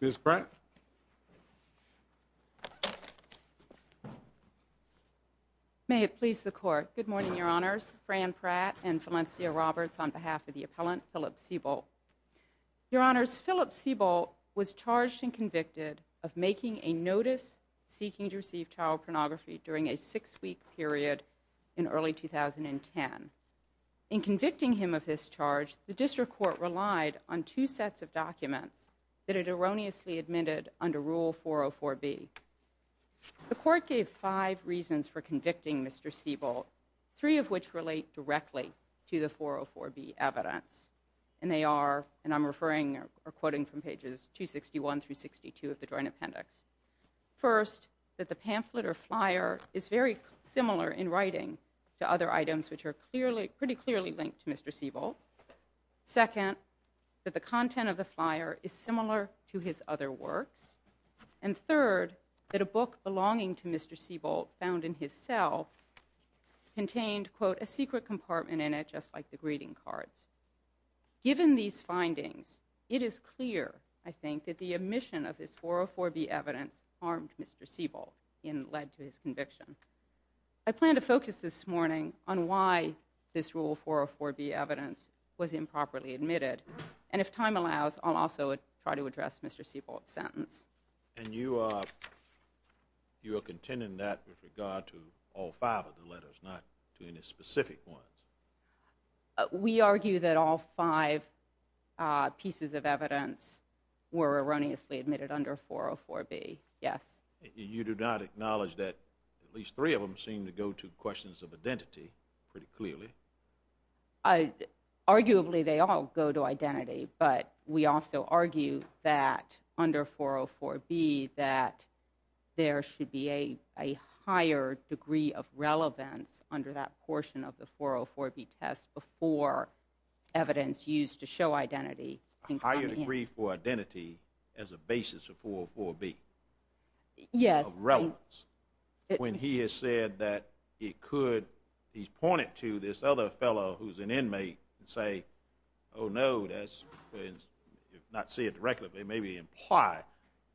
Ms. Pratt. May it please the Court. Good morning, Your Honors. Fran Pratt and Valencia Roberts on behalf of the appellant, Philip Sebolt. Your Honors, Philip Sebolt was charged and convicted of making a notice seeking to receive child pornography during a six-week period in early 2010. In convicting him of this charge, the District Court relied on two sets of documents that it erroneously admitted under Rule 404B. The Court gave five reasons for convicting Mr. Sebolt, three of which relate directly to the 404B evidence. And they are, and I'm referring or quoting from pages 261 through 62 of the Joint Appendix. First, that the pamphlet or flyer is very similar in writing to other items which are pretty clearly linked to Mr. Sebolt. Second, that the content of the flyer is similar to his other works. And third, that a book belonging to Mr. Sebolt found in his cell contained, quote, a secret compartment in it just like the greeting cards. Given these findings, it is clear, I think, that the omission of this 404B evidence harmed Mr. Sebolt and led to his conviction. I plan to focus this morning on why this Rule 404B evidence was improperly admitted. And if time allows, I'll also try to address Mr. Sebolt's sentence. And you are contending that with regard to all five of the letters, not to any specific ones? We argue that all five pieces of evidence were erroneously admitted under 404B, yes. You do not acknowledge that at least three of them seem to go to questions of identity pretty clearly? Arguably, they all go to identity, but we also argue that under 404B that there should be a higher degree of relevance under that portion of the 404B test before evidence used to show identity can come in. So you agree for identity as a basis for 404B? Yes. Of relevance? When he has said that it could, he's pointed to this other fellow who's an inmate, and say, oh no, that's, not say it directly, but maybe imply,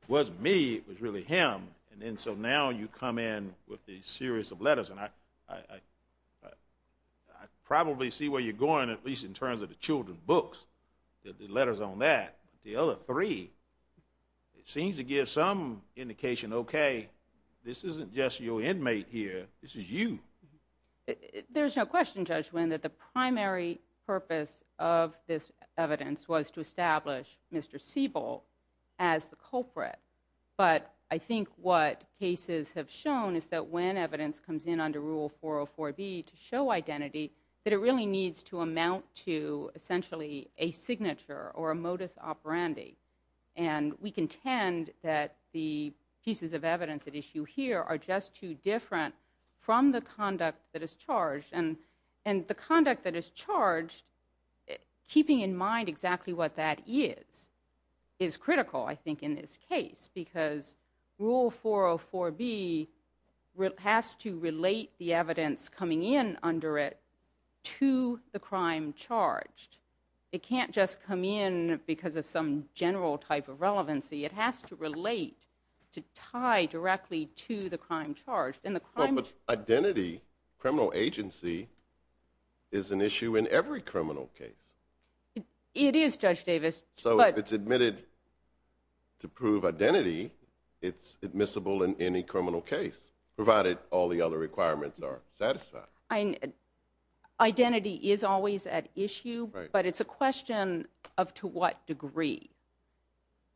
it wasn't me, it was really him. And then so now you come in with a series of letters, and I probably see where you're going, at least in terms of the children's books, the letters on that. The other three, it seems to give some indication, okay, this isn't just your inmate here, this is you. There's no question, Judge Wynn, that the primary purpose of this evidence was to establish Mr. Siebel as the culprit. But I think what cases have shown is that when evidence comes in under Rule 404B to show identity, that it really needs to amount to essentially a signature or a modus operandi. And we contend that the pieces of evidence at issue here are just too different from the conduct that is charged. And the conduct that is charged, keeping in mind exactly what that is, is critical, I think, in this case. Because Rule 404B has to relate the evidence coming in under it to the crime charged. It can't just come in because of some general type of relevancy. It has to relate, to tie directly to the crime charged. Identity, criminal agency, is an issue in every criminal case. It is, Judge Davis. So if it's admitted to prove identity, it's admissible in any criminal case, provided all the other requirements are satisfied. Identity is always at issue, but it's a question of to what degree.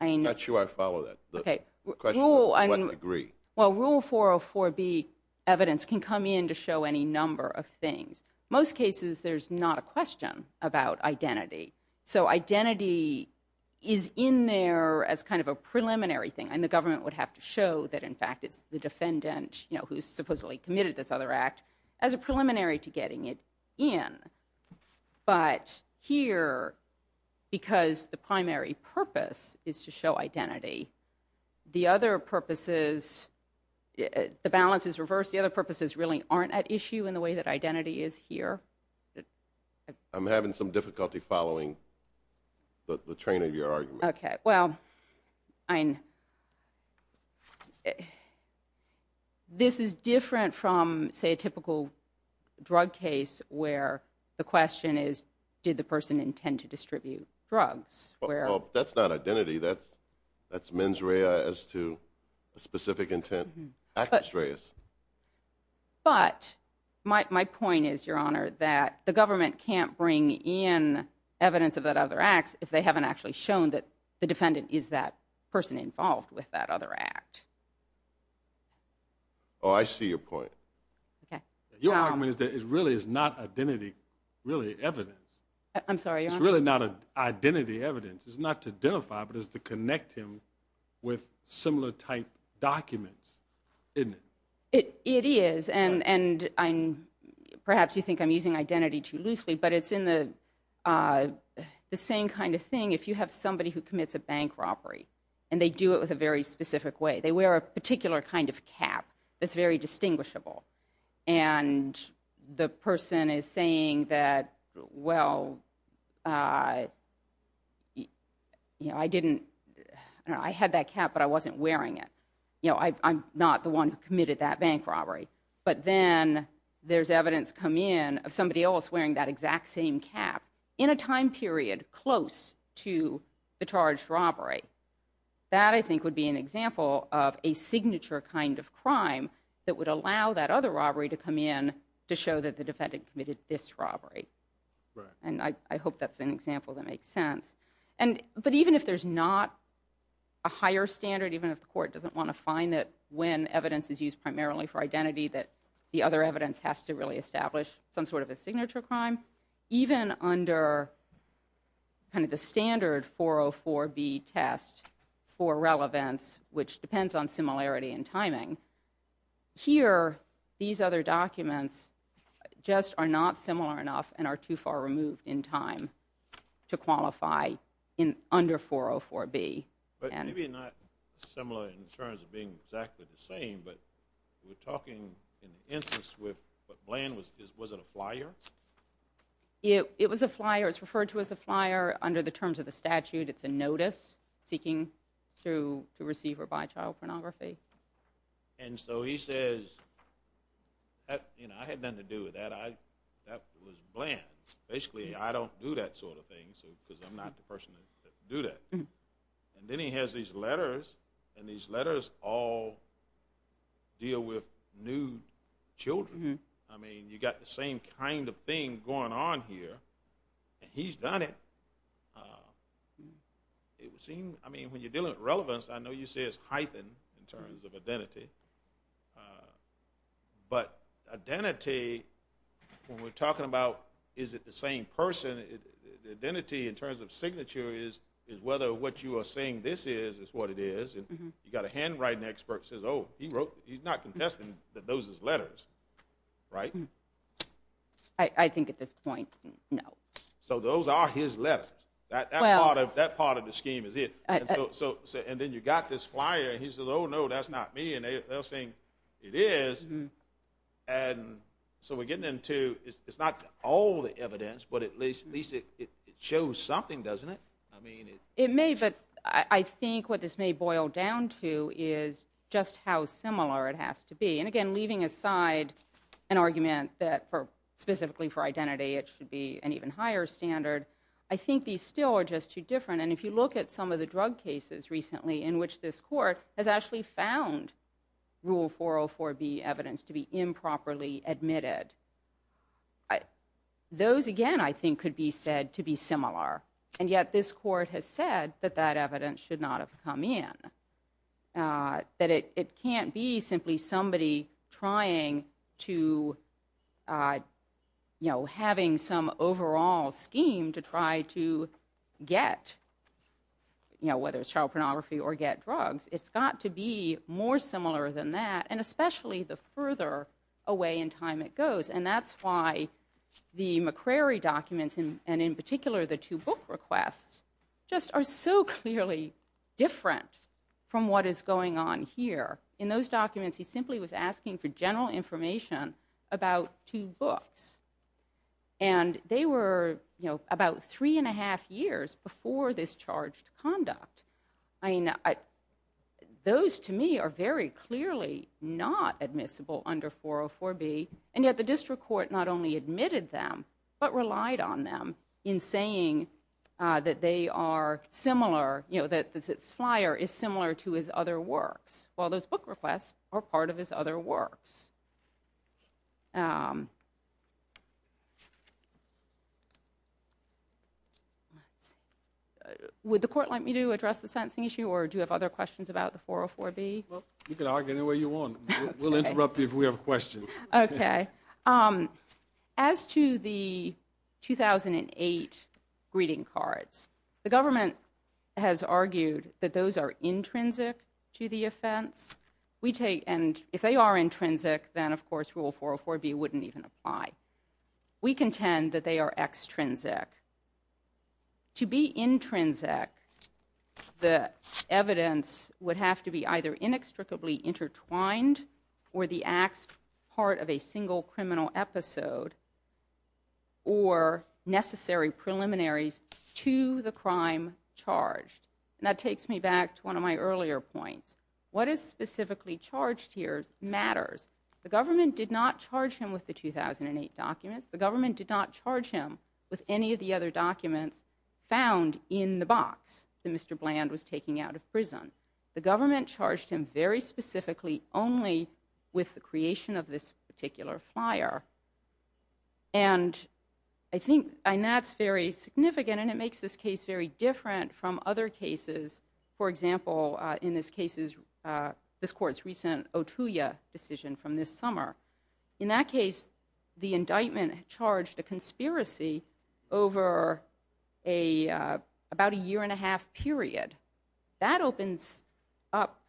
I'm not sure I follow that. The question is to what degree. Well, Rule 404B evidence can come in to show any number of things. Most cases, there's not a question about identity. So identity is in there as kind of a preliminary thing, and the government would have to show that, in fact, it's the defendant who supposedly committed this other act, as a preliminary to getting it in. But here, because the primary purpose is to show identity, the other purposes, the balance is reversed. The other purposes really aren't at issue in the way that identity is here. I'm having some difficulty following the train of your argument. Okay. Well, this is different from, say, a typical drug case where the question is, did the person intend to distribute drugs? That's not identity. That's mens rea as to a specific intent. Actus reus. But my point is, Your Honor, that the government can't bring in evidence of that other act if they haven't actually shown that the defendant is that person involved with that other act. Oh, I see your point. Your argument is that it really is not identity, really evidence. I'm sorry, Your Honor? It's really not identity evidence. It's not to identify, but it's to connect him with similar type documents, isn't it? It is. And perhaps you think I'm using identity too loosely, but it's the same kind of thing if you have somebody who commits a bank robbery and they do it with a very specific way. They wear a particular kind of cap that's very distinguishable. And the person is saying that, well, I had that cap, but I wasn't wearing it. I'm not the one who committed that bank robbery. But then there's evidence come in of somebody else wearing that exact same cap in a time period close to the charged robbery. That, I think, would be an example of a signature kind of crime that would allow that other robbery to come in to show that the defendant committed this robbery. And I hope that's an example that makes sense. But even if there's not a higher standard, even if the court doesn't want to find that when evidence is used primarily for identity that the other evidence has to really establish some sort of a signature crime, even under kind of the standard 404B test for relevance, which depends on similarity in timing, here these other documents just are not similar enough and are too far removed in time to qualify under 404B. But maybe not similar in terms of being exactly the same, but we're talking in the instance with Bland, was it a flyer? It was a flyer. It's referred to as a flyer under the terms of the statute. It's a notice seeking to receive or buy child pornography. And so he says, you know, I had nothing to do with that. That was Bland. Basically, I don't do that sort of thing because I'm not the person to do that. And then he has these letters, and these letters all deal with nude children. I mean, you've got the same kind of thing going on here, and he's done it. It would seem, I mean, when you're dealing with relevance, I know you say it's hyphen in terms of identity. But identity, when we're talking about is it the same person, identity in terms of signature is whether what you are saying this is is what it is. You've got a handwriting expert who says, oh, he's not contesting that those are letters, right? I think at this point, no. So those are his letters. That part of the scheme is it. And then you've got this flyer, and he says, oh, no, that's not me, and they're saying it is. And so we're getting into it's not all the evidence, but at least it shows something, doesn't it? It may, but I think what this may boil down to is just how similar it has to be. And again, leaving aside an argument that specifically for identity, it should be an even higher standard, I think these still are just too different. And if you look at some of the drug cases recently in which this court has actually found Rule 404B evidence to be improperly admitted, those, again, I think could be said to be similar. And yet this court has said that that evidence should not have come in, that it can't be simply somebody trying to, you know, having some overall scheme to try to get, you know, whether it's child pornography or get drugs. It's got to be more similar than that, and especially the further away in time it goes. And that's why the McCrary documents, and in particular the two book requests, just are so clearly different from what is going on here. In those documents, he simply was asking for general information about two books. And they were, you know, about three and a half years before this charged conduct. I mean, those to me are very clearly not admissible under 404B, and yet the district court not only admitted them, but relied on them in saying that they are similar, you know, that this flyer is similar to his other works. Well, those book requests are part of his other works. Would the court like me to address the sentencing issue, or do you have other questions about the 404B? Well, you can argue any way you want. We'll interrupt you if we have questions. Okay. As to the 2008 greeting cards, the government has argued that those are intrinsic to the offense. And if they are intrinsic, then, of course, Rule 404B wouldn't even apply. We contend that they are extrinsic. To be intrinsic, the evidence would have to be either inextricably intertwined or the acts part of a single criminal episode or necessary preliminaries to the crime charged. And that takes me back to one of my earlier points. What is specifically charged here matters. The government did not charge him with the 2008 documents. The government did not charge him with any of the other documents found in the box that Mr. Bland was taking out of prison. The government charged him very specifically only with the creation of this particular flyer. And I think that's very significant, and it makes this case very different from other cases. For example, in this case, this court's recent Otuya decision from this summer. In that case, the indictment charged a conspiracy over about a year-and-a-half period. That opens up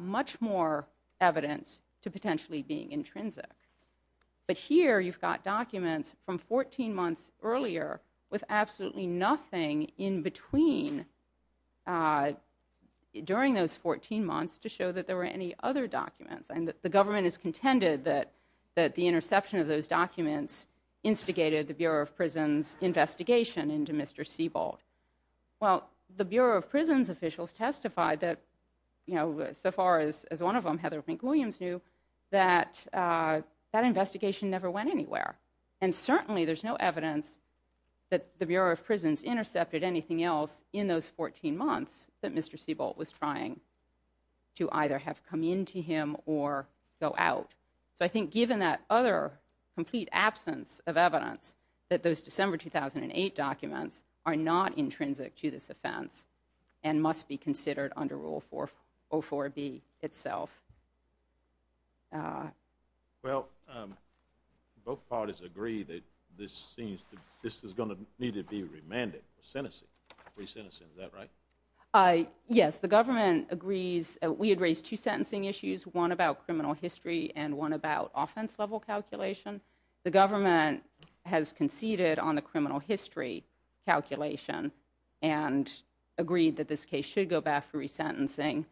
much more evidence to potentially being intrinsic. But here, you've got documents from 14 months earlier with absolutely nothing in between during those 14 months to show that there were any other documents. And the government has contended that the interception of those documents instigated the Bureau of Prisons' investigation into Mr. Sebald. Well, the Bureau of Prisons' officials testified that, you know, so far as one of them, Heather McWilliams, knew that that investigation never went anywhere. And certainly there's no evidence that the Bureau of Prisons intercepted anything else in those 14 months that Mr. Sebald was trying to either have come into him or go out. So I think given that other complete absence of evidence that those December 2008 documents are not intrinsic to this offense and must be considered under Rule 404B itself. Well, both parties agree that this is going to need to be remanded for sentencing. Is that right? Yes, the government agrees. We had raised two sentencing issues, one about criminal history and one about offense level calculation. The government has conceded on the criminal history calculation and agreed that this case should go back for resentencing.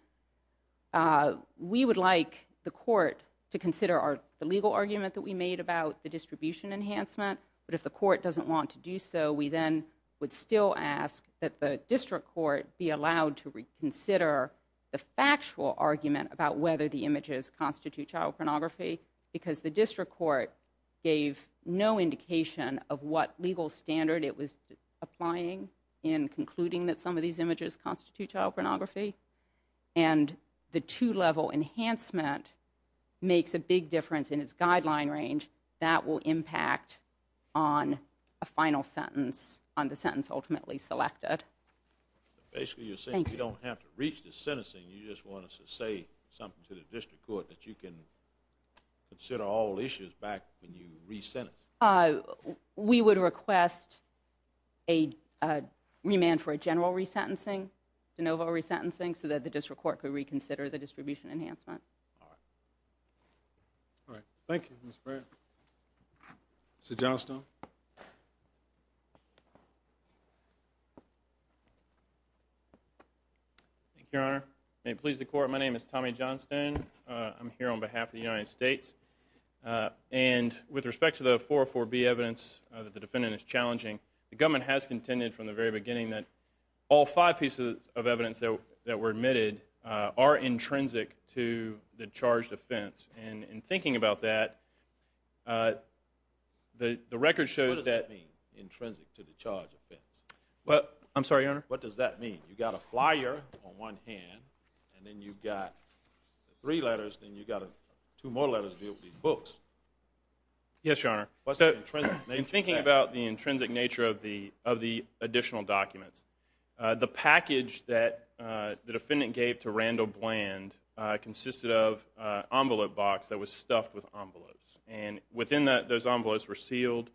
We would like the court to consider the legal argument that we made about the distribution enhancement, but if the court doesn't want to do so, we then would still ask that the district court be allowed to reconsider the factual argument about whether the images constitute child pornography because the district court gave no indication of what legal standard it was applying in concluding that some of these images constitute child pornography. And the two-level enhancement makes a big difference in its guideline range. That will impact on a final sentence, on the sentence ultimately selected. Basically you're saying you don't have to reach the sentencing, you just want us to say something to the district court that you can consider all issues back when you re-sentence? We would request a remand for a general re-sentencing, de novo re-sentencing, so that the district court could reconsider the distribution enhancement. All right. All right. Thank you, Ms. Baird. Mr. Johnstone. Thank you, Your Honor. May it please the court, my name is Tommy Johnstone. I'm here on behalf of the United States. And with respect to the 404B evidence that the defendant is challenging, the government has contended from the very beginning that all five pieces of evidence that were admitted are intrinsic to the charged offense. And in thinking about that, the record shows that... What does that mean, intrinsic to the charged offense? Well, I'm sorry, Your Honor? What does that mean? You've got a flyer on one hand, and then you've got three letters, then you've got two more letters to be able to read books. Yes, Your Honor. What's the intrinsic nature of that? In thinking about the intrinsic nature of the additional documents, the package that the defendant gave to Randall Bland consisted of an envelope box that was stuffed with envelopes. And within those envelopes were sealed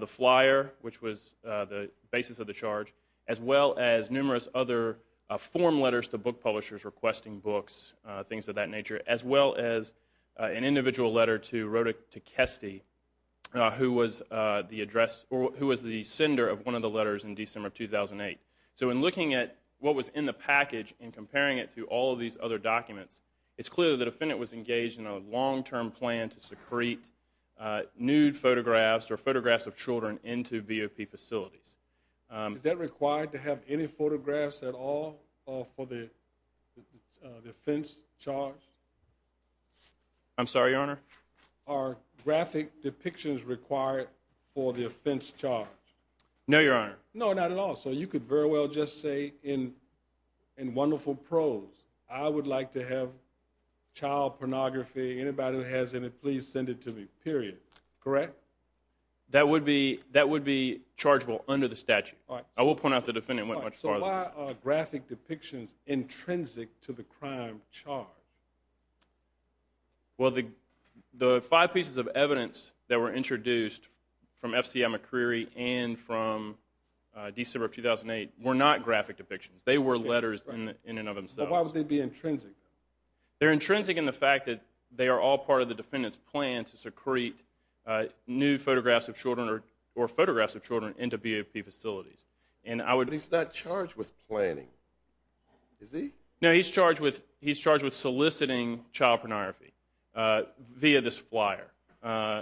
the flyer, which was the basis of the charge, as well as numerous other form letters to book publishers requesting books, things of that nature, as well as an individual letter to Kesty, who was the sender of one of the letters in December of 2008. So in looking at what was in the package and comparing it to all of these other documents, it's clear that the defendant was engaged in a long-term plan to secrete nude photographs or photographs of children into BOP facilities. Is that required to have any photographs at all for the offense charge? I'm sorry, Your Honor? Are graphic depictions required for the offense charge? No, Your Honor. No, not at all. So you could very well just say in wonderful prose, I would like to have child pornography. Anybody who has any, please send it to me, period. Correct? That would be chargeable under the statute. I will point out the defendant went much farther than that. So why are graphic depictions intrinsic to the crime charge? Well, the five pieces of evidence that were introduced from FCM McCreary and from December of 2008 were not graphic depictions. They were letters in and of themselves. But why would they be intrinsic? They're intrinsic in the fact that they are all part of the defendant's plan to secrete nude photographs of children or photographs of children into BOP facilities. But he's not charged with planning, is he? No, he's charged with soliciting child pornography via this flyer. But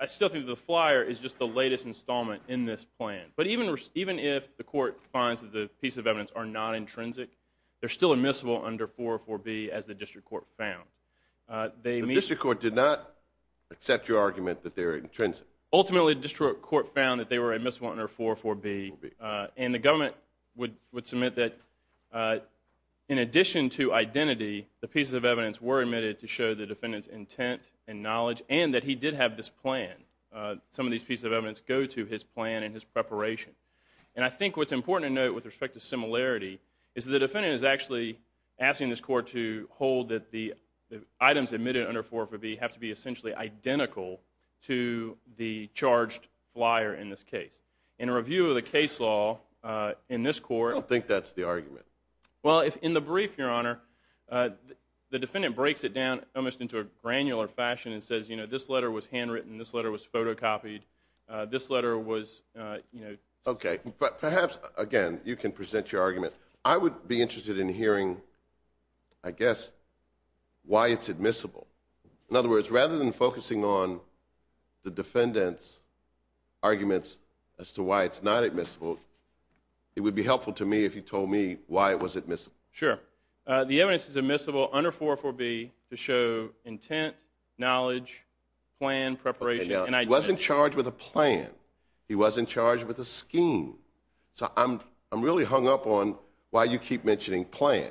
I still think the flyer is just the latest installment in this plan. But even if the court finds that the pieces of evidence are not intrinsic, they're still admissible under 404B as the district court found. The district court did not accept your argument that they're intrinsic? Ultimately, the district court found that they were admissible under 404B, and the government would submit that in addition to identity, the pieces of evidence were admitted to show the defendant's intent and knowledge and that he did have this plan. Some of these pieces of evidence go to his plan and his preparation. And I think what's important to note with respect to similarity is that the defendant is actually asking this court to hold that the items admitted under 404B have to be essentially identical to the charged flyer in this case. In a review of the case law in this court... I don't think that's the argument. Well, in the brief, Your Honor, the defendant breaks it down almost into a granular fashion and says, you know, this letter was handwritten, this letter was photocopied, this letter was, you know... Okay, but perhaps, again, you can present your argument. I would be interested in hearing, I guess, why it's admissible. In other words, rather than focusing on the defendant's arguments as to why it's not admissible, it would be helpful to me if you told me why it was admissible. Sure. The evidence is admissible under 404B to show intent, knowledge, plan, preparation, and identity. He wasn't charged with a plan. He wasn't charged with a scheme. So I'm really hung up on why you keep mentioning plan.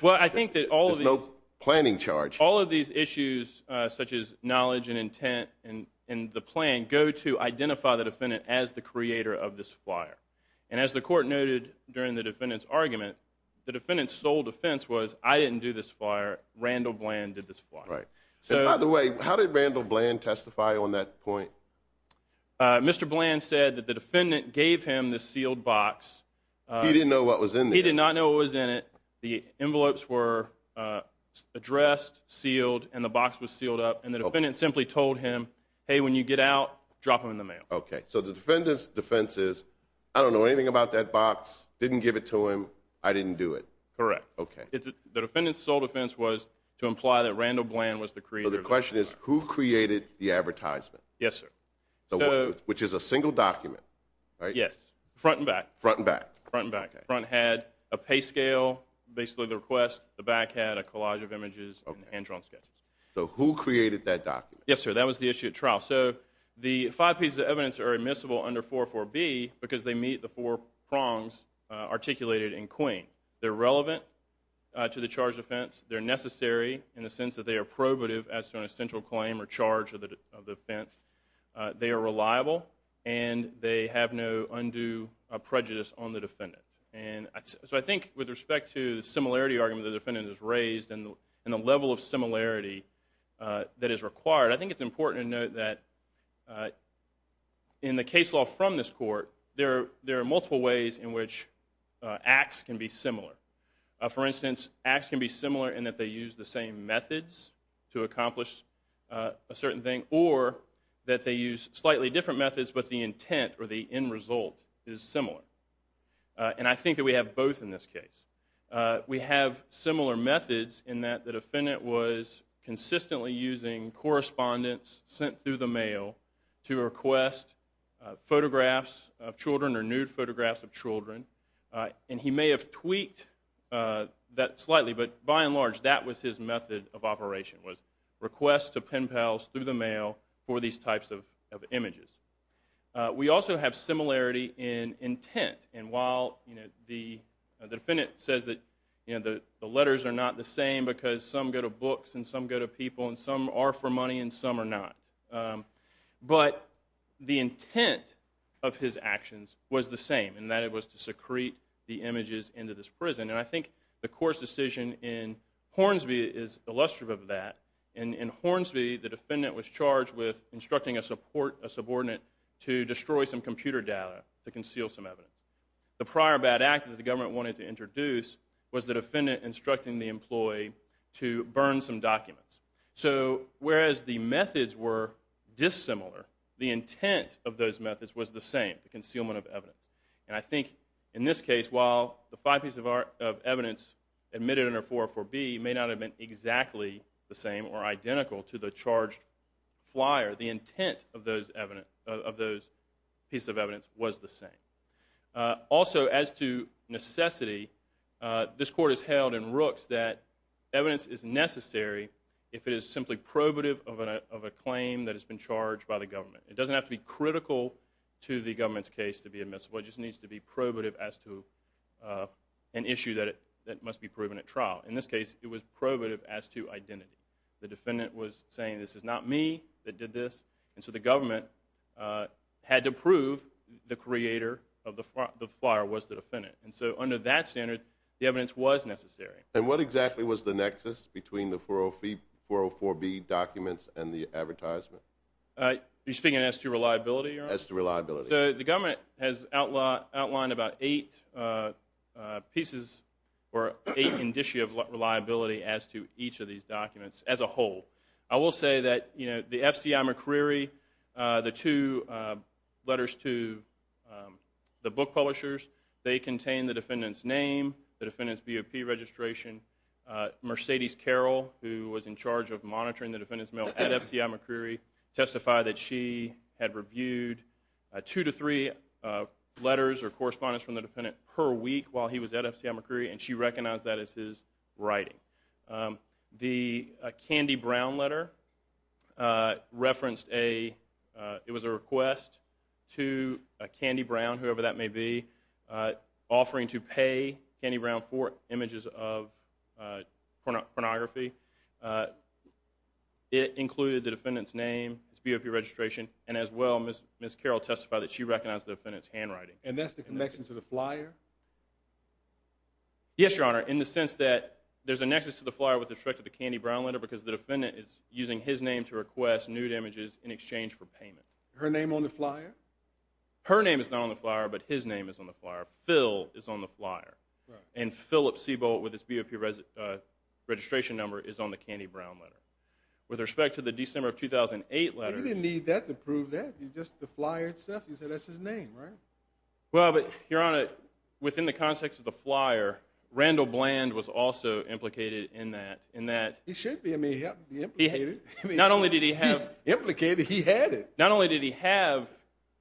Well, I think that all of these... There's no planning charge. All of these issues, such as knowledge and intent and the plan, go to identify the defendant as the creator of this flyer. And as the court noted during the defendant's argument, the defendant's sole defense was, I didn't do this flyer, Randall Bland did this flyer. Right. By the way, how did Randall Bland testify on that point? Mr. Bland said that the defendant gave him this sealed box. He didn't know what was in there. He did not know what was in it. The envelopes were addressed, sealed, and the box was sealed up, and the defendant simply told him, hey, when you get out, drop them in the mail. Okay. So the defendant's defense is, I don't know anything about that box, didn't give it to him, I didn't do it. Correct. Okay. The defendant's sole defense was to imply that Randall Bland was the creator of the flyer. So the question is, who created the advertisement? Yes, sir. Which is a single document, right? Yes, front and back. Front and back. Front and back. Front had a pay scale, basically the request. The back had a collage of images and hand-drawn sketches. So who created that document? Yes, sir. That was the issue at trial. So the five pieces of evidence are admissible under 404B because they meet the four prongs articulated in Queen. They're relevant to the charged offense. They're necessary in the sense that they are probative as to an essential claim or charge of the offense. They are reliable, and they have no undue prejudice on the defendant. And so I think with respect to the similarity argument the defendant has raised and the level of similarity that is required, I think it's important to note that in the case law from this court, there are multiple ways in which acts can be similar. For instance, acts can be similar in that they use the same methods to accomplish a certain thing or that they use slightly different methods but the intent or the end result is similar. And I think that we have both in this case. We have similar methods in that the defendant was consistently using correspondence sent through the mail to request photographs of children or nude photographs of children. And he may have tweaked that slightly, but by and large that was his method of operation, was requests to pen pals through the mail for these types of images. We also have similarity in intent. And while the defendant says that the letters are not the same because some go to books and some go to people and some are for money and some are not, but the intent of his actions was the same in that it was to secrete the images into this prison. And I think the court's decision in Hornsby is illustrative of that. In Hornsby, the defendant was charged with instructing a support, a subordinate, to destroy some computer data to conceal some evidence. The prior bad act that the government wanted to introduce was the defendant instructing the employee to burn some documents. So whereas the methods were dissimilar, the intent of those methods was the same, the concealment of evidence. And I think in this case, while the five pieces of evidence admitted under 404B may not have been exactly the same or identical to the charged flyer, the intent of those pieces of evidence was the same. Also, as to necessity, this court has held in Rooks that evidence is necessary if it is simply probative of a claim that has been charged by the government. It doesn't have to be critical to the government's case to be admissible. It just needs to be probative as to an issue that must be proven at trial. In this case, it was probative as to identity. The defendant was saying, this is not me that did this. And so the government had to prove the creator of the flyer was the defendant. And so under that standard, the evidence was necessary. And what exactly was the nexus between the 404B documents and the advertisement? Are you speaking as to reliability, Your Honor? As to reliability. So the government has outlined about eight pieces or eight indicia of reliability as to each of these documents as a whole. I will say that the FCI McCreery, the two letters to the book publishers, they contain the defendant's name, the defendant's BOP registration. Mercedes Carroll, who was in charge of monitoring the defendant's mail at FCI McCreery, testified that she had reviewed two to three letters or correspondence from the defendant per week while he was at FCI McCreery, and she recognized that as his writing. The Candy Brown letter referenced a request to Candy Brown, whoever that may be, offering to pay Candy Brown for images of pornography. It included the defendant's name, his BOP registration, and as well, Ms. Carroll testified that she recognized the defendant's handwriting. And that's the connection to the flyer? Yes, Your Honor, in the sense that there's a nexus to the flyer with respect to the Candy Brown letter because the defendant is using his name to request nude images in exchange for payment. Her name on the flyer? Her name is not on the flyer, but his name is on the flyer. Phil is on the flyer. And Philip Seabolt, with his BOP registration number, is on the Candy Brown letter. With respect to the December of 2008 letters... He didn't need that to prove that. Just the flyer itself. He said that's his name, right? Well, but, Your Honor, within the context of the flyer, Randall Bland was also implicated in that. He should be. I mean, he had to be implicated. Not only did he have... Implicated? He had it. Not only did he have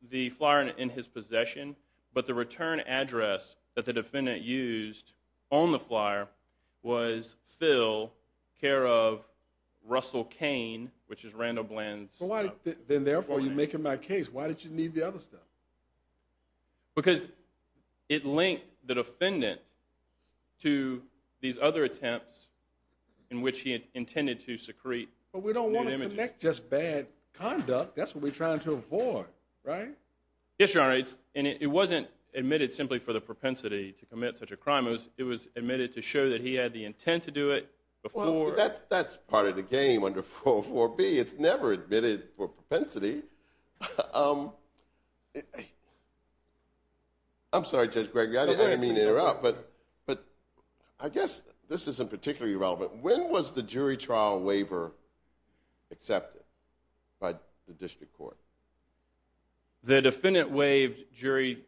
the flyer in his possession, but the return address that the defendant used on the flyer was Phil, care of, Russell Cain, which is Randall Bland's... Then, therefore, you're making my case. Why did you need the other stuff? Because it linked the defendant to these other attempts in which he had intended to secrete nude images. But we don't want to connect just bad conduct. That's what we're trying to avoid, right? Yes, Your Honor. And it wasn't admitted simply for the propensity to commit such a crime. It was admitted to show that he had the intent to do it before... Well, that's part of the game under 404B. It's never admitted for propensity. I'm sorry, Judge Gregory, I didn't mean to interrupt, but I guess this isn't particularly relevant. When was the jury trial waiver accepted by the district court? The defendant waived jury...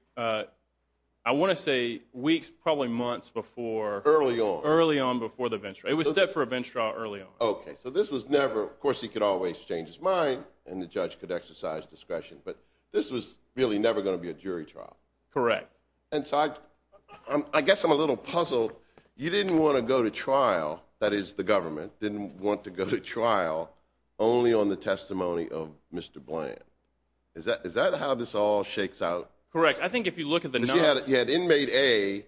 I want to say weeks, probably months before... Early on. Early on before the bench trial. It was set for a bench trial early on. Okay, so this was never... Of course, he could always change his mind, and the judge could exercise discretion, but this was really never going to be a jury trial. Correct. And so I guess I'm a little puzzled. You didn't want to go to trial, that is the government, didn't want to go to trial only on the testimony of Mr. Bland. Is that how this all shakes out? Correct. I think if you look at the... Because you had inmate A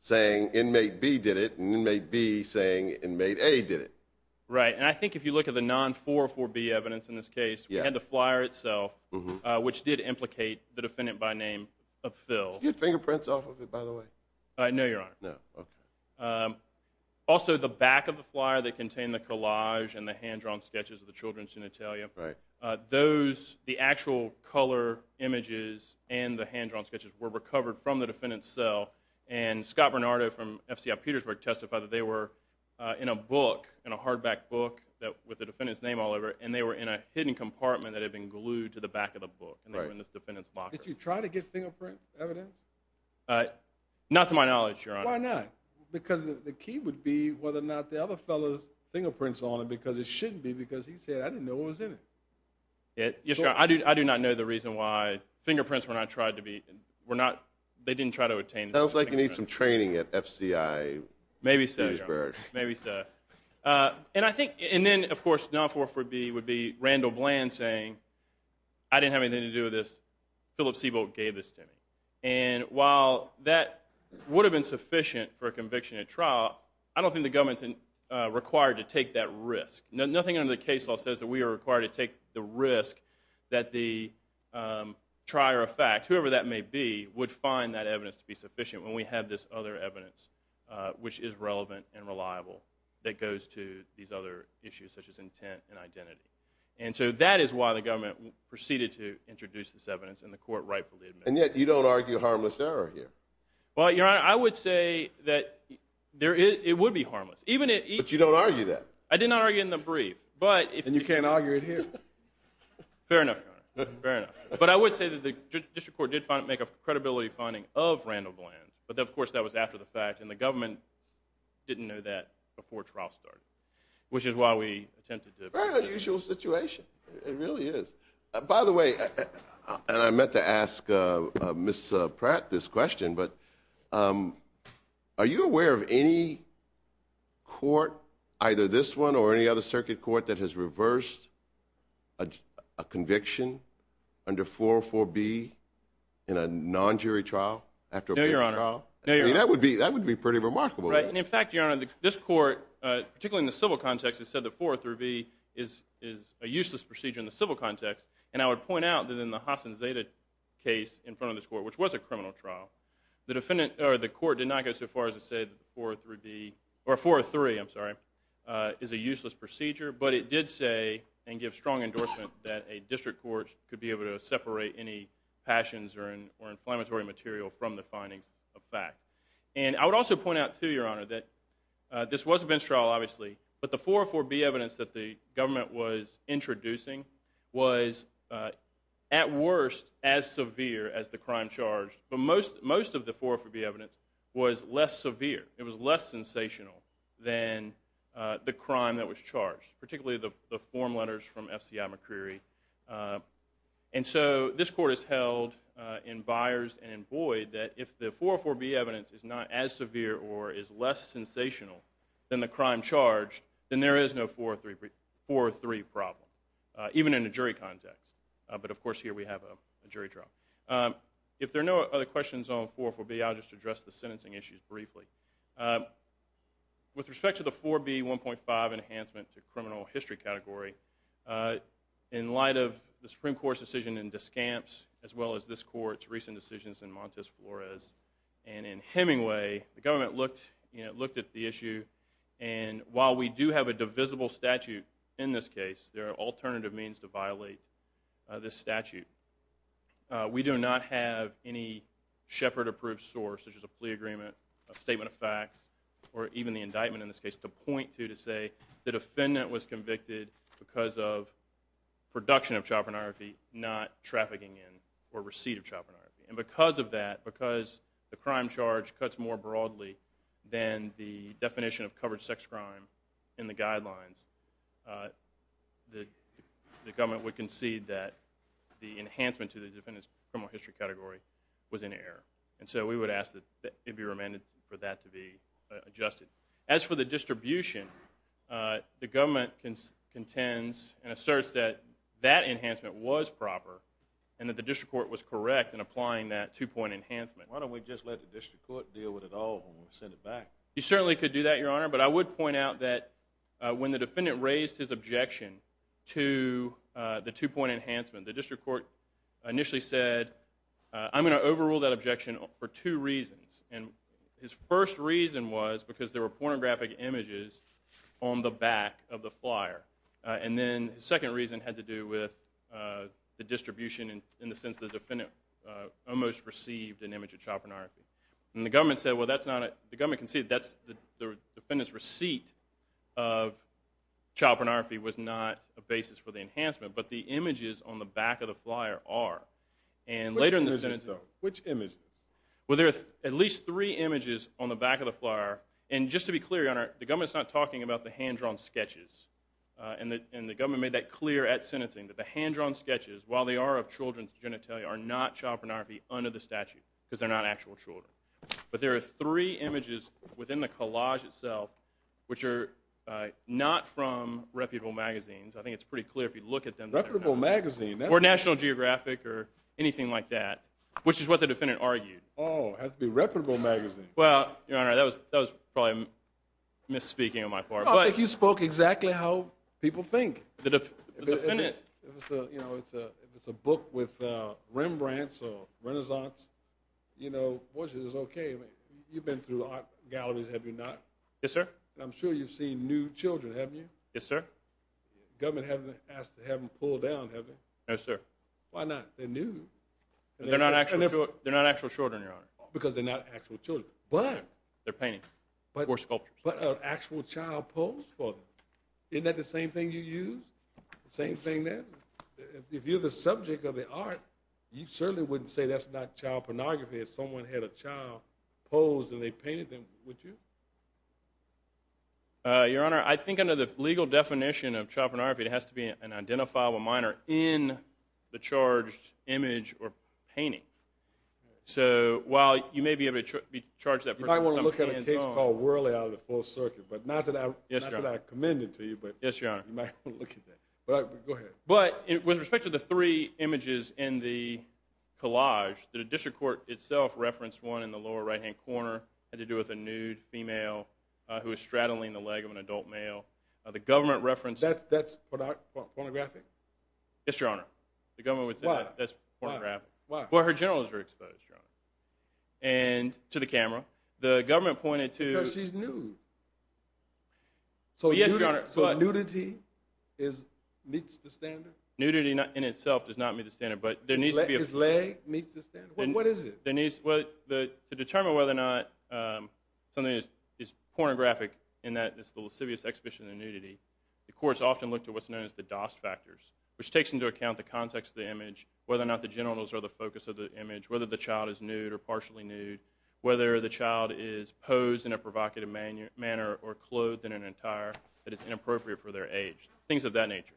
saying inmate B did it, and inmate B saying inmate A did it. Right, and I think if you look at the non-404B evidence in this case, we had the flyer itself, which did implicate the defendant by name of Phil. Did you get fingerprints off of it, by the way? No, Your Honor. No, okay. Also, the back of the flyer that contained the collage and the hand-drawn sketches of the children's genitalia, the actual color images and the hand-drawn sketches were recovered from the defendant's cell, and Scott Bernardo from FCI Petersburg testified that they were in a book, in a hardback book with the defendant's name all over it, and they were in a hidden compartment that had been glued to the back of the book, and they were in this defendant's locker. Did you try to get fingerprint evidence? Not to my knowledge, Your Honor. Why not? Because the key would be whether or not the other fellow's fingerprints are on it, because it shouldn't be, because he said, I didn't know what was in it. Yes, Your Honor. I do not know the reason why fingerprints were not tried to be, were not, they didn't try to obtain fingerprints. Sounds like you need some training at FCI Petersburg. Maybe so, Your Honor. Maybe so. And I think, and then, of course, non-404B would be Randall Bland saying, I didn't have anything to do with this. Philip Seabolt gave this to me. And while that would have been sufficient for a conviction at trial, I don't think the government's required to take that risk. Nothing under the case law says that we are required to take the risk that the trier of fact, whoever that may be, would find that evidence to be sufficient when we have this other evidence, which is relevant and reliable, that goes to these other issues, such as intent and identity. And so that is why the government proceeded to introduce this evidence, and the court rightfully admitted it. And yet you don't argue harmless error here. Well, Your Honor, I would say that it would be harmless. But you don't argue that. I did not argue it in the brief. And you can't argue it here. Fair enough, Your Honor. Fair enough. But I would say that the district court did make a credibility finding of Randall Bland. But, of course, that was after the fact. And the government didn't know that before trial started, which is why we attempted to. Very unusual situation. It really is. By the way, and I meant to ask Ms. Pratt this question, but are you aware of any court, either this one or any other circuit court, that has reversed a conviction under 404B in a non-jury trial? No, Your Honor. I mean, that would be pretty remarkable. Right. And, in fact, Your Honor, this court, particularly in the civil context, has said that 403B is a useless procedure in the civil context. And I would point out that in the Hassan Zeta case in front of this court, which was a criminal trial, the court did not go so far as to say that 403B or 403, I'm sorry, is a useless procedure. But it did say and give strong endorsement that a district court could be able to separate any passions or inflammatory material from the findings of fact. And I would also point out, too, Your Honor, that this was a bench trial, obviously, but the 404B evidence that the government was introducing was, at worst, as severe as the crime charged. But most of the 404B evidence was less severe. It was less sensational than the crime that was charged, particularly the form letters from F.C.I. McCreery. And so this court has held in buyers and in Boyd that if the 404B evidence is not as severe or is less sensational than the crime charged, then there is no 403 problem, even in a jury context. But, of course, here we have a jury trial. If there are no other questions on 404B, I'll just address the sentencing issues briefly. With respect to the 404B 1.5 enhancement to criminal history category, in light of the Supreme Court's decision in Descamps, as well as this court's recent decisions in Montes Flores and in Hemingway, the government looked at the issue, and while we do have a divisible statute in this case, there are alternative means to violate this statute. We do not have any Shepard-approved source, such as a plea agreement, a statement of facts, or even the indictment in this case, to point to to say the defendant was convicted because of production of child pornography, not trafficking in or receipt of child pornography. And because of that, because the crime charge cuts more broadly than the definition of covered sex crime in the guidelines, the government would concede that the enhancement to the defendant's criminal history category was in error. And so we would ask that it be remanded for that to be adjusted. As for the distribution, the government contends and asserts that that enhancement was proper and that the district court was correct in applying that two-point enhancement. Why don't we just let the district court deal with it all when we send it back? You certainly could do that, Your Honor, but I would point out that when the defendant raised his objection to the two-point enhancement, the district court initially said, I'm going to overrule that objection for two reasons. And his first reason was because there were pornographic images on the back of the flyer. And then the second reason had to do with the distribution in the sense the defendant almost received an image of child pornography. And the government said, well, that's not it. The government conceded that the defendant's receipt of child pornography was not a basis for the enhancement, but the images on the back of the flyer are. Which images, though? Which images? Well, there are at least three images on the back of the flyer. And just to be clear, Your Honor, the government's not talking about the hand-drawn sketches. And the government made that clear at sentencing, that the hand-drawn sketches, while they are of children's genitalia, are not child pornography under the statute because they're not actual children. But there are three images within the collage itself which are not from reputable magazines. I think it's pretty clear if you look at them. Reputable magazine? Or National Geographic or anything like that, which is what the defendant argued. Oh, it has to be a reputable magazine. Well, Your Honor, that was probably misspeaking on my part. I think you spoke exactly how people think. If it's a book with Rembrandts or Renaissance, you know, it's okay. You've been through art galleries, have you not? Yes, sir. I'm sure you've seen new children, haven't you? Yes, sir. Government hasn't asked to have them pulled down, have they? No, sir. Why not? They're new. They're not actual children, Your Honor. Because they're not actual children. They're paintings or sculptures. But an actual child posed for them. Isn't that the same thing you use? The same thing there? If you're the subject of the art, you certainly wouldn't say that's not child pornography if someone had a child posed and they painted them, would you? Your Honor, I think under the legal definition of child pornography, it has to be an identifiable minor in the charged image or painting. So while you may be able to charge that person some hands-on... You might want to look at a case called Worley out of the full circuit. Yes, Your Honor. Not that I commend it to you, but you might want to look at that. Go ahead. But with respect to the three images in the collage, the district court itself referenced one in the lower right-hand corner. It had to do with a nude female who was straddling the leg of an adult male. The government referenced... That's pornographic? Yes, Your Honor. The government would say that's pornographic. Why? Well, her genitals were exposed, Your Honor. And to the camera. The government pointed to... Because she's nude. Yes, Your Honor. So nudity meets the standard? Nudity in itself does not meet the standard. But there needs to be... His leg meets the standard? What is it? To determine whether or not something is pornographic in that it's the lascivious exhibition of nudity, the courts often look to what's known as the DOS factors, which takes into account the context of the image, whether or not the genitals are the focus of the image, whether the child is nude or partially nude, whether the child is posed in a provocative manner or clothed in an attire that is inappropriate for their age, things of that nature.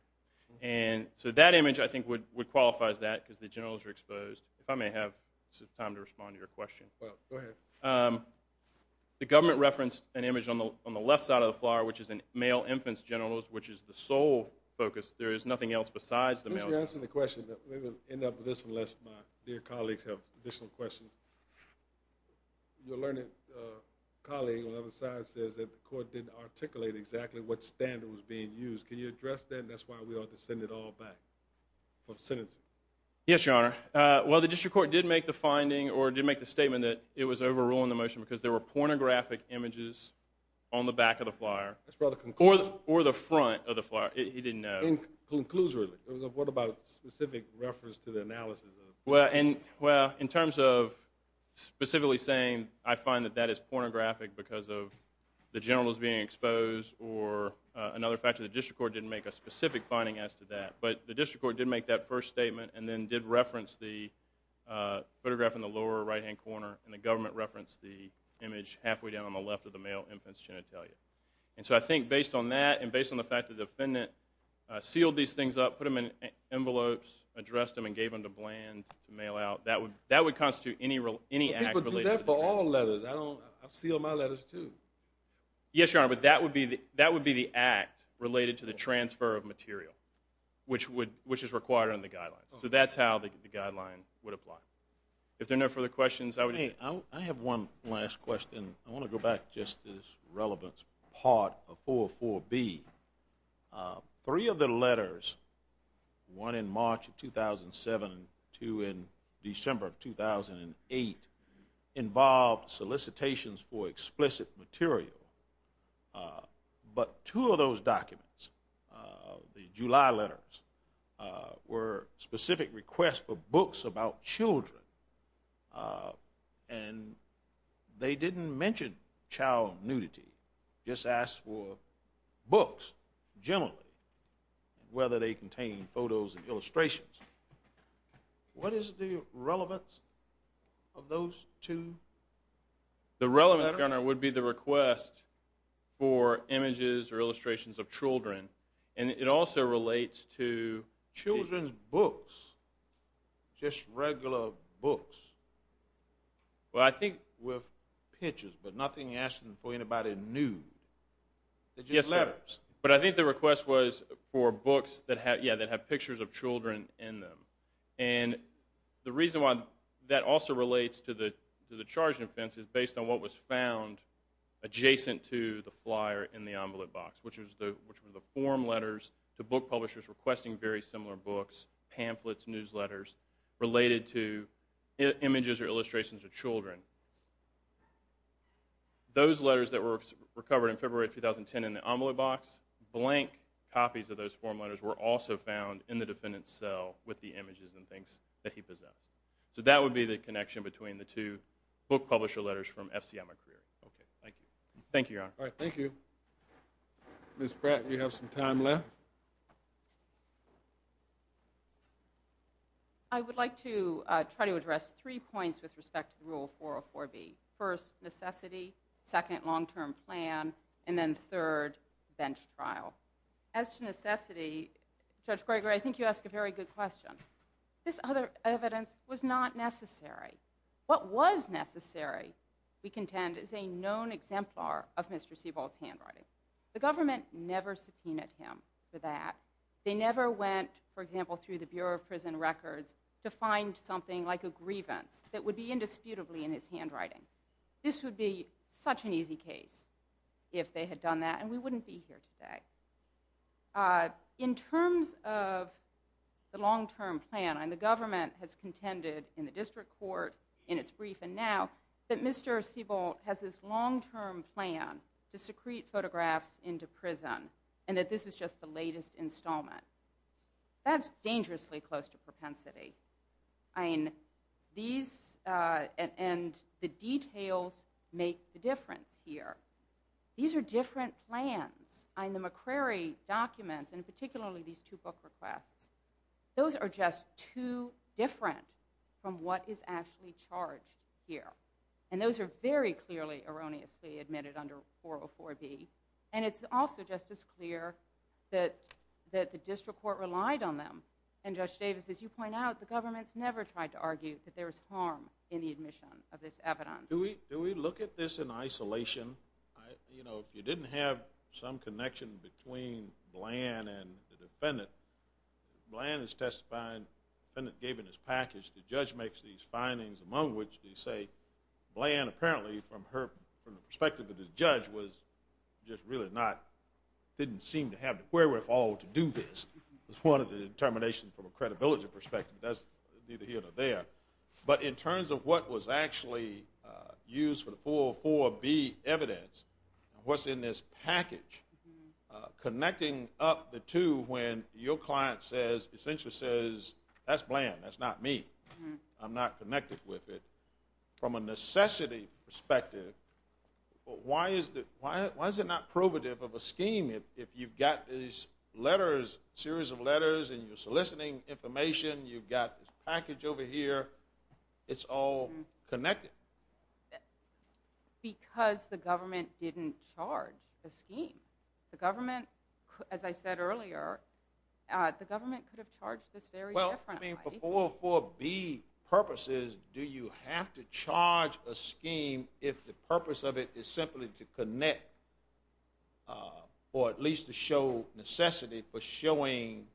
And so that image, I think, would qualify as that because the genitals are exposed. If I may have some time to respond to your question. Go ahead. The government referenced an image on the left side of the floor, which is a male infant's genitals, which is the sole focus. There is nothing else besides the male genitals. Since you're answering the question, we will end up with this unless my dear colleagues have additional questions. Your learned colleague on the other side says that the court didn't articulate exactly what standard was being used. Can you address that? That's why we ought to send it all back for sentencing. Yes, Your Honor. Well, the district court did make the finding or did make the statement that it was overruling the motion because there were pornographic images on the back of the flyer. That's rather conclusive. Or the front of the flyer. He didn't know. Conclusively. What about specific reference to the analysis? Well, in terms of specifically saying, I find that that is pornographic because of the genitals being exposed or another factor, the district court didn't make a specific finding as to that. But the district court did make that first statement and then did reference the photograph in the lower right-hand corner and the government referenced the image halfway down on the left of the male infant's genitalia. And so I think based on that and based on the fact that the defendant sealed these things up, put them in envelopes, addressed them and gave them to Bland to mail out, that would constitute any act related to that. People do that for all letters. I've sealed my letters, too. Yes, Your Honor, but that would be the act related to the transfer of material, which is required under the guidelines. So that's how the guideline would apply. If there are no further questions, I would just say. I have one last question. I want to go back just to this relevance part of 404B. Three of the letters, one in March of 2007 and two in December of 2008, involved solicitations for explicit material. But two of those documents, the July letters, were specific requests for books about children, and they didn't mention child nudity, just asked for books generally, whether they contained photos and illustrations. What is the relevance of those two letters? The relevance, Your Honor, would be the request for images or illustrations of children, and it also relates to… Children's books, just regular books. Well, I think with pictures, but nothing asking for anybody nude. They're just letters. But I think the request was for books that have pictures of children in them. And the reason why that also relates to the charging offense is based on what was found adjacent to the flyer in the envelope box, which were the form letters to book publishers requesting very similar books, pamphlets, newsletters, related to images or illustrations of children. Those letters that were recovered in February of 2010 in the envelope box, blank copies of those form letters were also found in the defendant's cell with the images and things that he possessed. So that would be the connection between the two book publisher letters from FCM McCreary. Okay, thank you. Thank you, Your Honor. All right, thank you. Ms. Pratt, you have some time left. I would like to try to address three points with respect to Rule 404B. First, necessity. Second, long-term plan. And then third, bench trial. As to necessity, Judge Gregory, I think you ask a very good question. This other evidence was not necessary. What was necessary, we contend, is a known exemplar of Mr. Seabolt's handwriting. The government never subpoenaed him for that. They never went, for example, through the Bureau of Prison Records to find something like a grievance that would be indisputably in his handwriting. This would be such an easy case if they had done that, and we wouldn't be here today. In terms of the long-term plan, the government has contended in the district court, in its briefing now, that Mr. Seabolt has this long-term plan to secrete photographs into prison and that this is just the latest installment. That's dangerously close to propensity. And the details make the difference here. These are different plans. In the McCrary documents, and particularly these two book requests, those are just too different from what is actually charged here. And those are very clearly, erroneously admitted under 404B. And it's also just as clear that the district court relied on them. And, Judge Davis, as you point out, the government's never tried to argue that there is harm in the admission of this evidence. Do we look at this in isolation? You know, if you didn't have some connection between Bland and the defendant, Bland is testifying, the defendant gave him his package, the judge makes these findings, among which they say, Bland apparently, from the perspective of the judge, was just really not, didn't seem to have the wherewithal to do this, was one of the determinations from a credibility perspective. That's neither here nor there. But in terms of what was actually used for the 404B evidence, what's in this package, connecting up the two when your client says, essentially says, that's Bland, that's not me, I'm not connected with it, from a necessity perspective, why is it not probative of a scheme if you've got these letters, series of letters, and you're soliciting information, you've got this package over here, it's all connected? Because the government didn't charge a scheme. The government, as I said earlier, the government could have charged this very differently. Well, I mean, for 404B purposes, do you have to charge a scheme if the purpose of it is simply to connect, or at least to show necessity for showing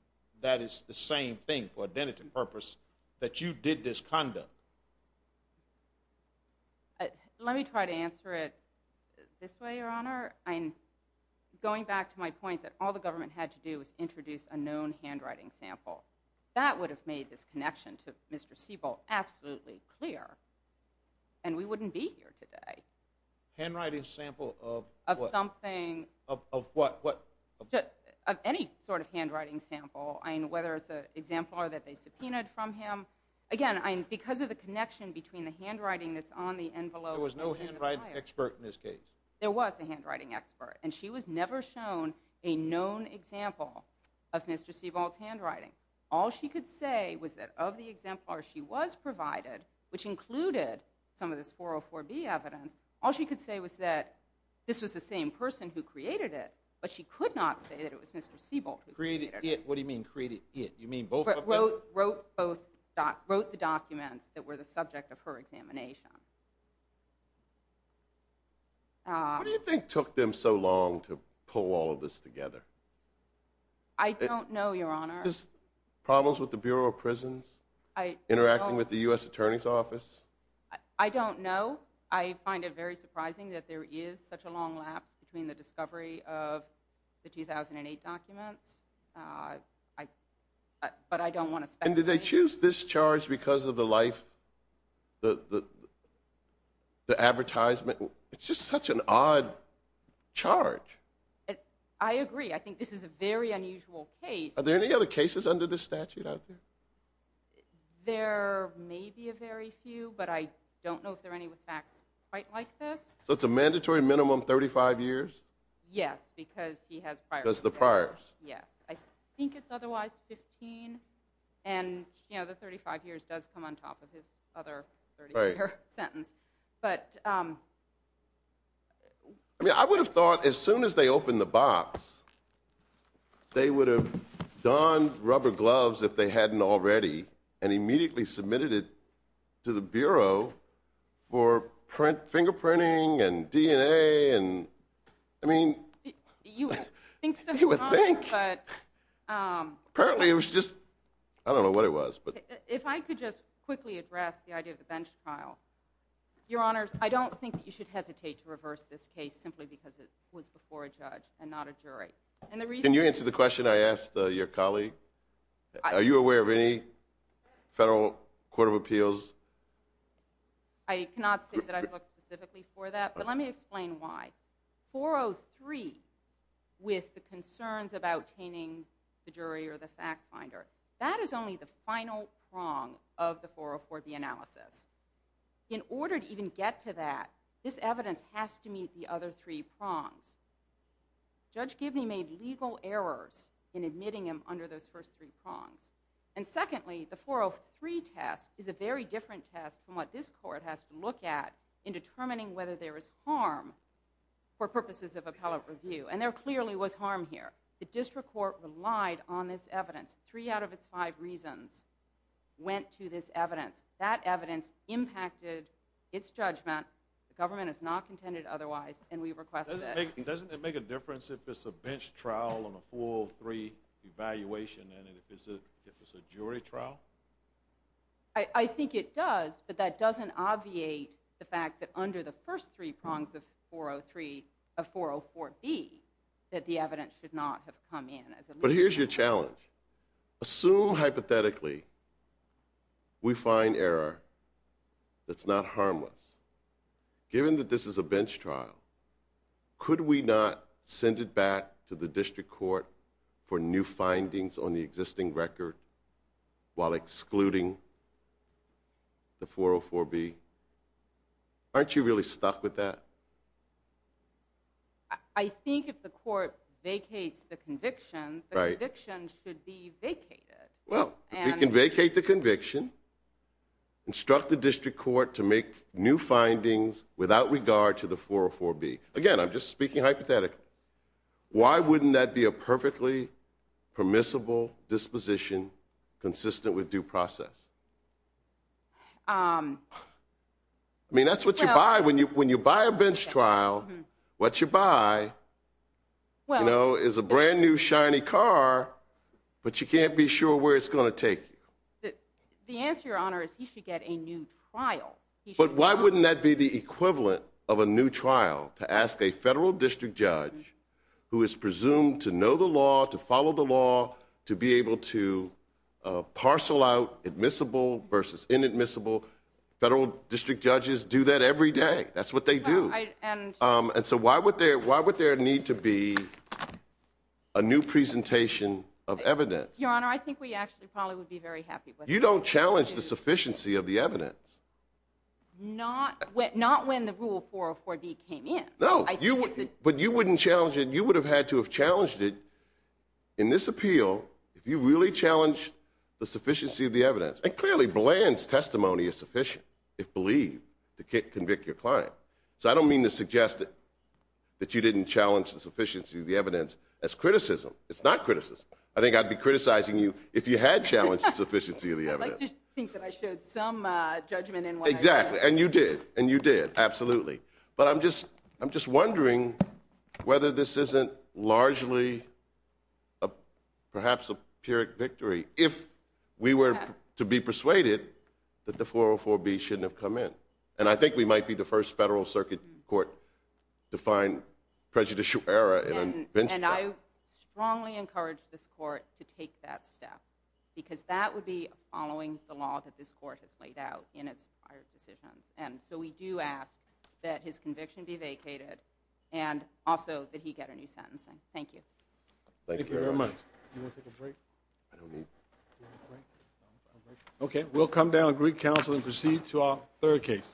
that it's the same thing, for identity purpose, that you did this conduct? Let me try to answer it this way, Your Honor. Going back to my point that all the government had to do was introduce a known handwriting sample. That would have made this connection to Mr. Siebel absolutely clear, and we wouldn't be here today. Handwriting sample of what? Of something. Of what? Of any sort of handwriting sample. I mean, whether it's an exemplar that they subpoenaed from him. Again, because of the connection between the handwriting that's on the envelope There was no handwriting expert in this case. There was a handwriting expert, and she was never shown a known example of Mr. Siebel's handwriting. All she could say was that of the exemplars she was provided, which included some of this 404B evidence, all she could say was that this was the same person who created it, but she could not say that it was Mr. Siebel who created it. What do you mean created it? You mean both of them? Wrote the documents that were the subject of her examination. What do you think took them so long to pull all of this together? I don't know, Your Honor. Problems with the Bureau of Prisons? Interacting with the U.S. Attorney's Office? I don't know. I find it very surprising that there is such a long lapse between the discovery of the 2008 documents, but I don't want to speculate. And did they choose this charge because of the life, the advertisement? It's just such an odd charge. I agree. I think this is a very unusual case. Are there any other cases under this statute out there? There may be a very few, but I don't know if there are any with facts quite like this. So it's a mandatory minimum 35 years? Yes, because he has priors. Because of the priors. Yes. I think it's otherwise 15, and the 35 years does come on top of his other 30-year sentence. But I would have thought as soon as they opened the box, they would have donned rubber gloves if they hadn't already and immediately submitted it to the Bureau for fingerprinting and DNA. I mean, you would think. Apparently it was just, I don't know what it was. If I could just quickly address the idea of the bench trial. Your Honors, I don't think you should hesitate to reverse this case simply because it was before a judge and not a jury. Can you answer the question I asked your colleague? Are you aware of any federal court of appeals? I cannot say that I've looked specifically for that, but let me explain why. 403 with the concerns about taming the jury or the fact finder, that is only the final prong of the 404B analysis. In order to even get to that, this evidence has to meet the other three prongs. Judge Gibney made legal errors in admitting him under those first three prongs. And secondly, the 403 test is a very different test from what this court has to look at in determining whether there is harm for purposes of appellate review. And there clearly was harm here. The district court relied on this evidence. Three out of its five reasons went to this evidence. That evidence impacted its judgment. The government has not contended otherwise, and we requested it. Doesn't it make a difference if it's a bench trial and a 403 evaluation and if it's a jury trial? I think it does, but that doesn't obviate the fact that under the first three prongs of 403, of 404B, that the evidence should not have come in. But here's your challenge. Assume hypothetically we find error that's not harmless. Given that this is a bench trial, could we not send it back to the district court for new findings on the existing record while excluding the 404B? Aren't you really stuck with that? I think if the court vacates the conviction, the conviction should be vacated. Well, we can vacate the conviction, instruct the district court to make new findings without regard to the 404B. Again, I'm just speaking hypothetically. Why wouldn't that be a perfectly permissible disposition consistent with due process? I mean, that's what you buy when you buy a bench trial. What you buy is a brand-new shiny car, but you can't be sure where it's going to take you. The answer, Your Honor, is he should get a new trial. But why wouldn't that be the equivalent of a new trial to ask a federal district judge who is presumed to know the law, to follow the law, to be able to parcel out admissible versus inadmissible? Federal district judges do that every day. That's what they do. And so why would there need to be a new presentation of evidence? Your Honor, I think we actually probably would be very happy... You don't challenge the sufficiency of the evidence. Not when the rule 404B came in. No, but you wouldn't challenge it. You would have had to have challenged it in this appeal if you really challenged the sufficiency of the evidence. And clearly, Bland's testimony is sufficient, if believed, to convict your client. So I don't mean to suggest that you didn't challenge the sufficiency of the evidence as criticism. It's not criticism. I think I'd be criticizing you if you had challenged the sufficiency of the evidence. I'd like to think that I showed some judgment in what I said. Exactly, and you did, and you did, absolutely. But I'm just wondering whether this isn't largely perhaps a pyrrhic victory if we were to be persuaded that the 404B shouldn't have come in. And I think we might be the first federal circuit court to find prejudicial error in a bench trial. And I strongly encourage this court to take that step, because that would be following the law that this court has laid out in its prior decisions. And so we do ask that his conviction be vacated and also that he get a new sentencing. Thank you. Thank you very much. You want to take a break? I don't need... Okay, we'll come down to Greek Council and proceed to our third case.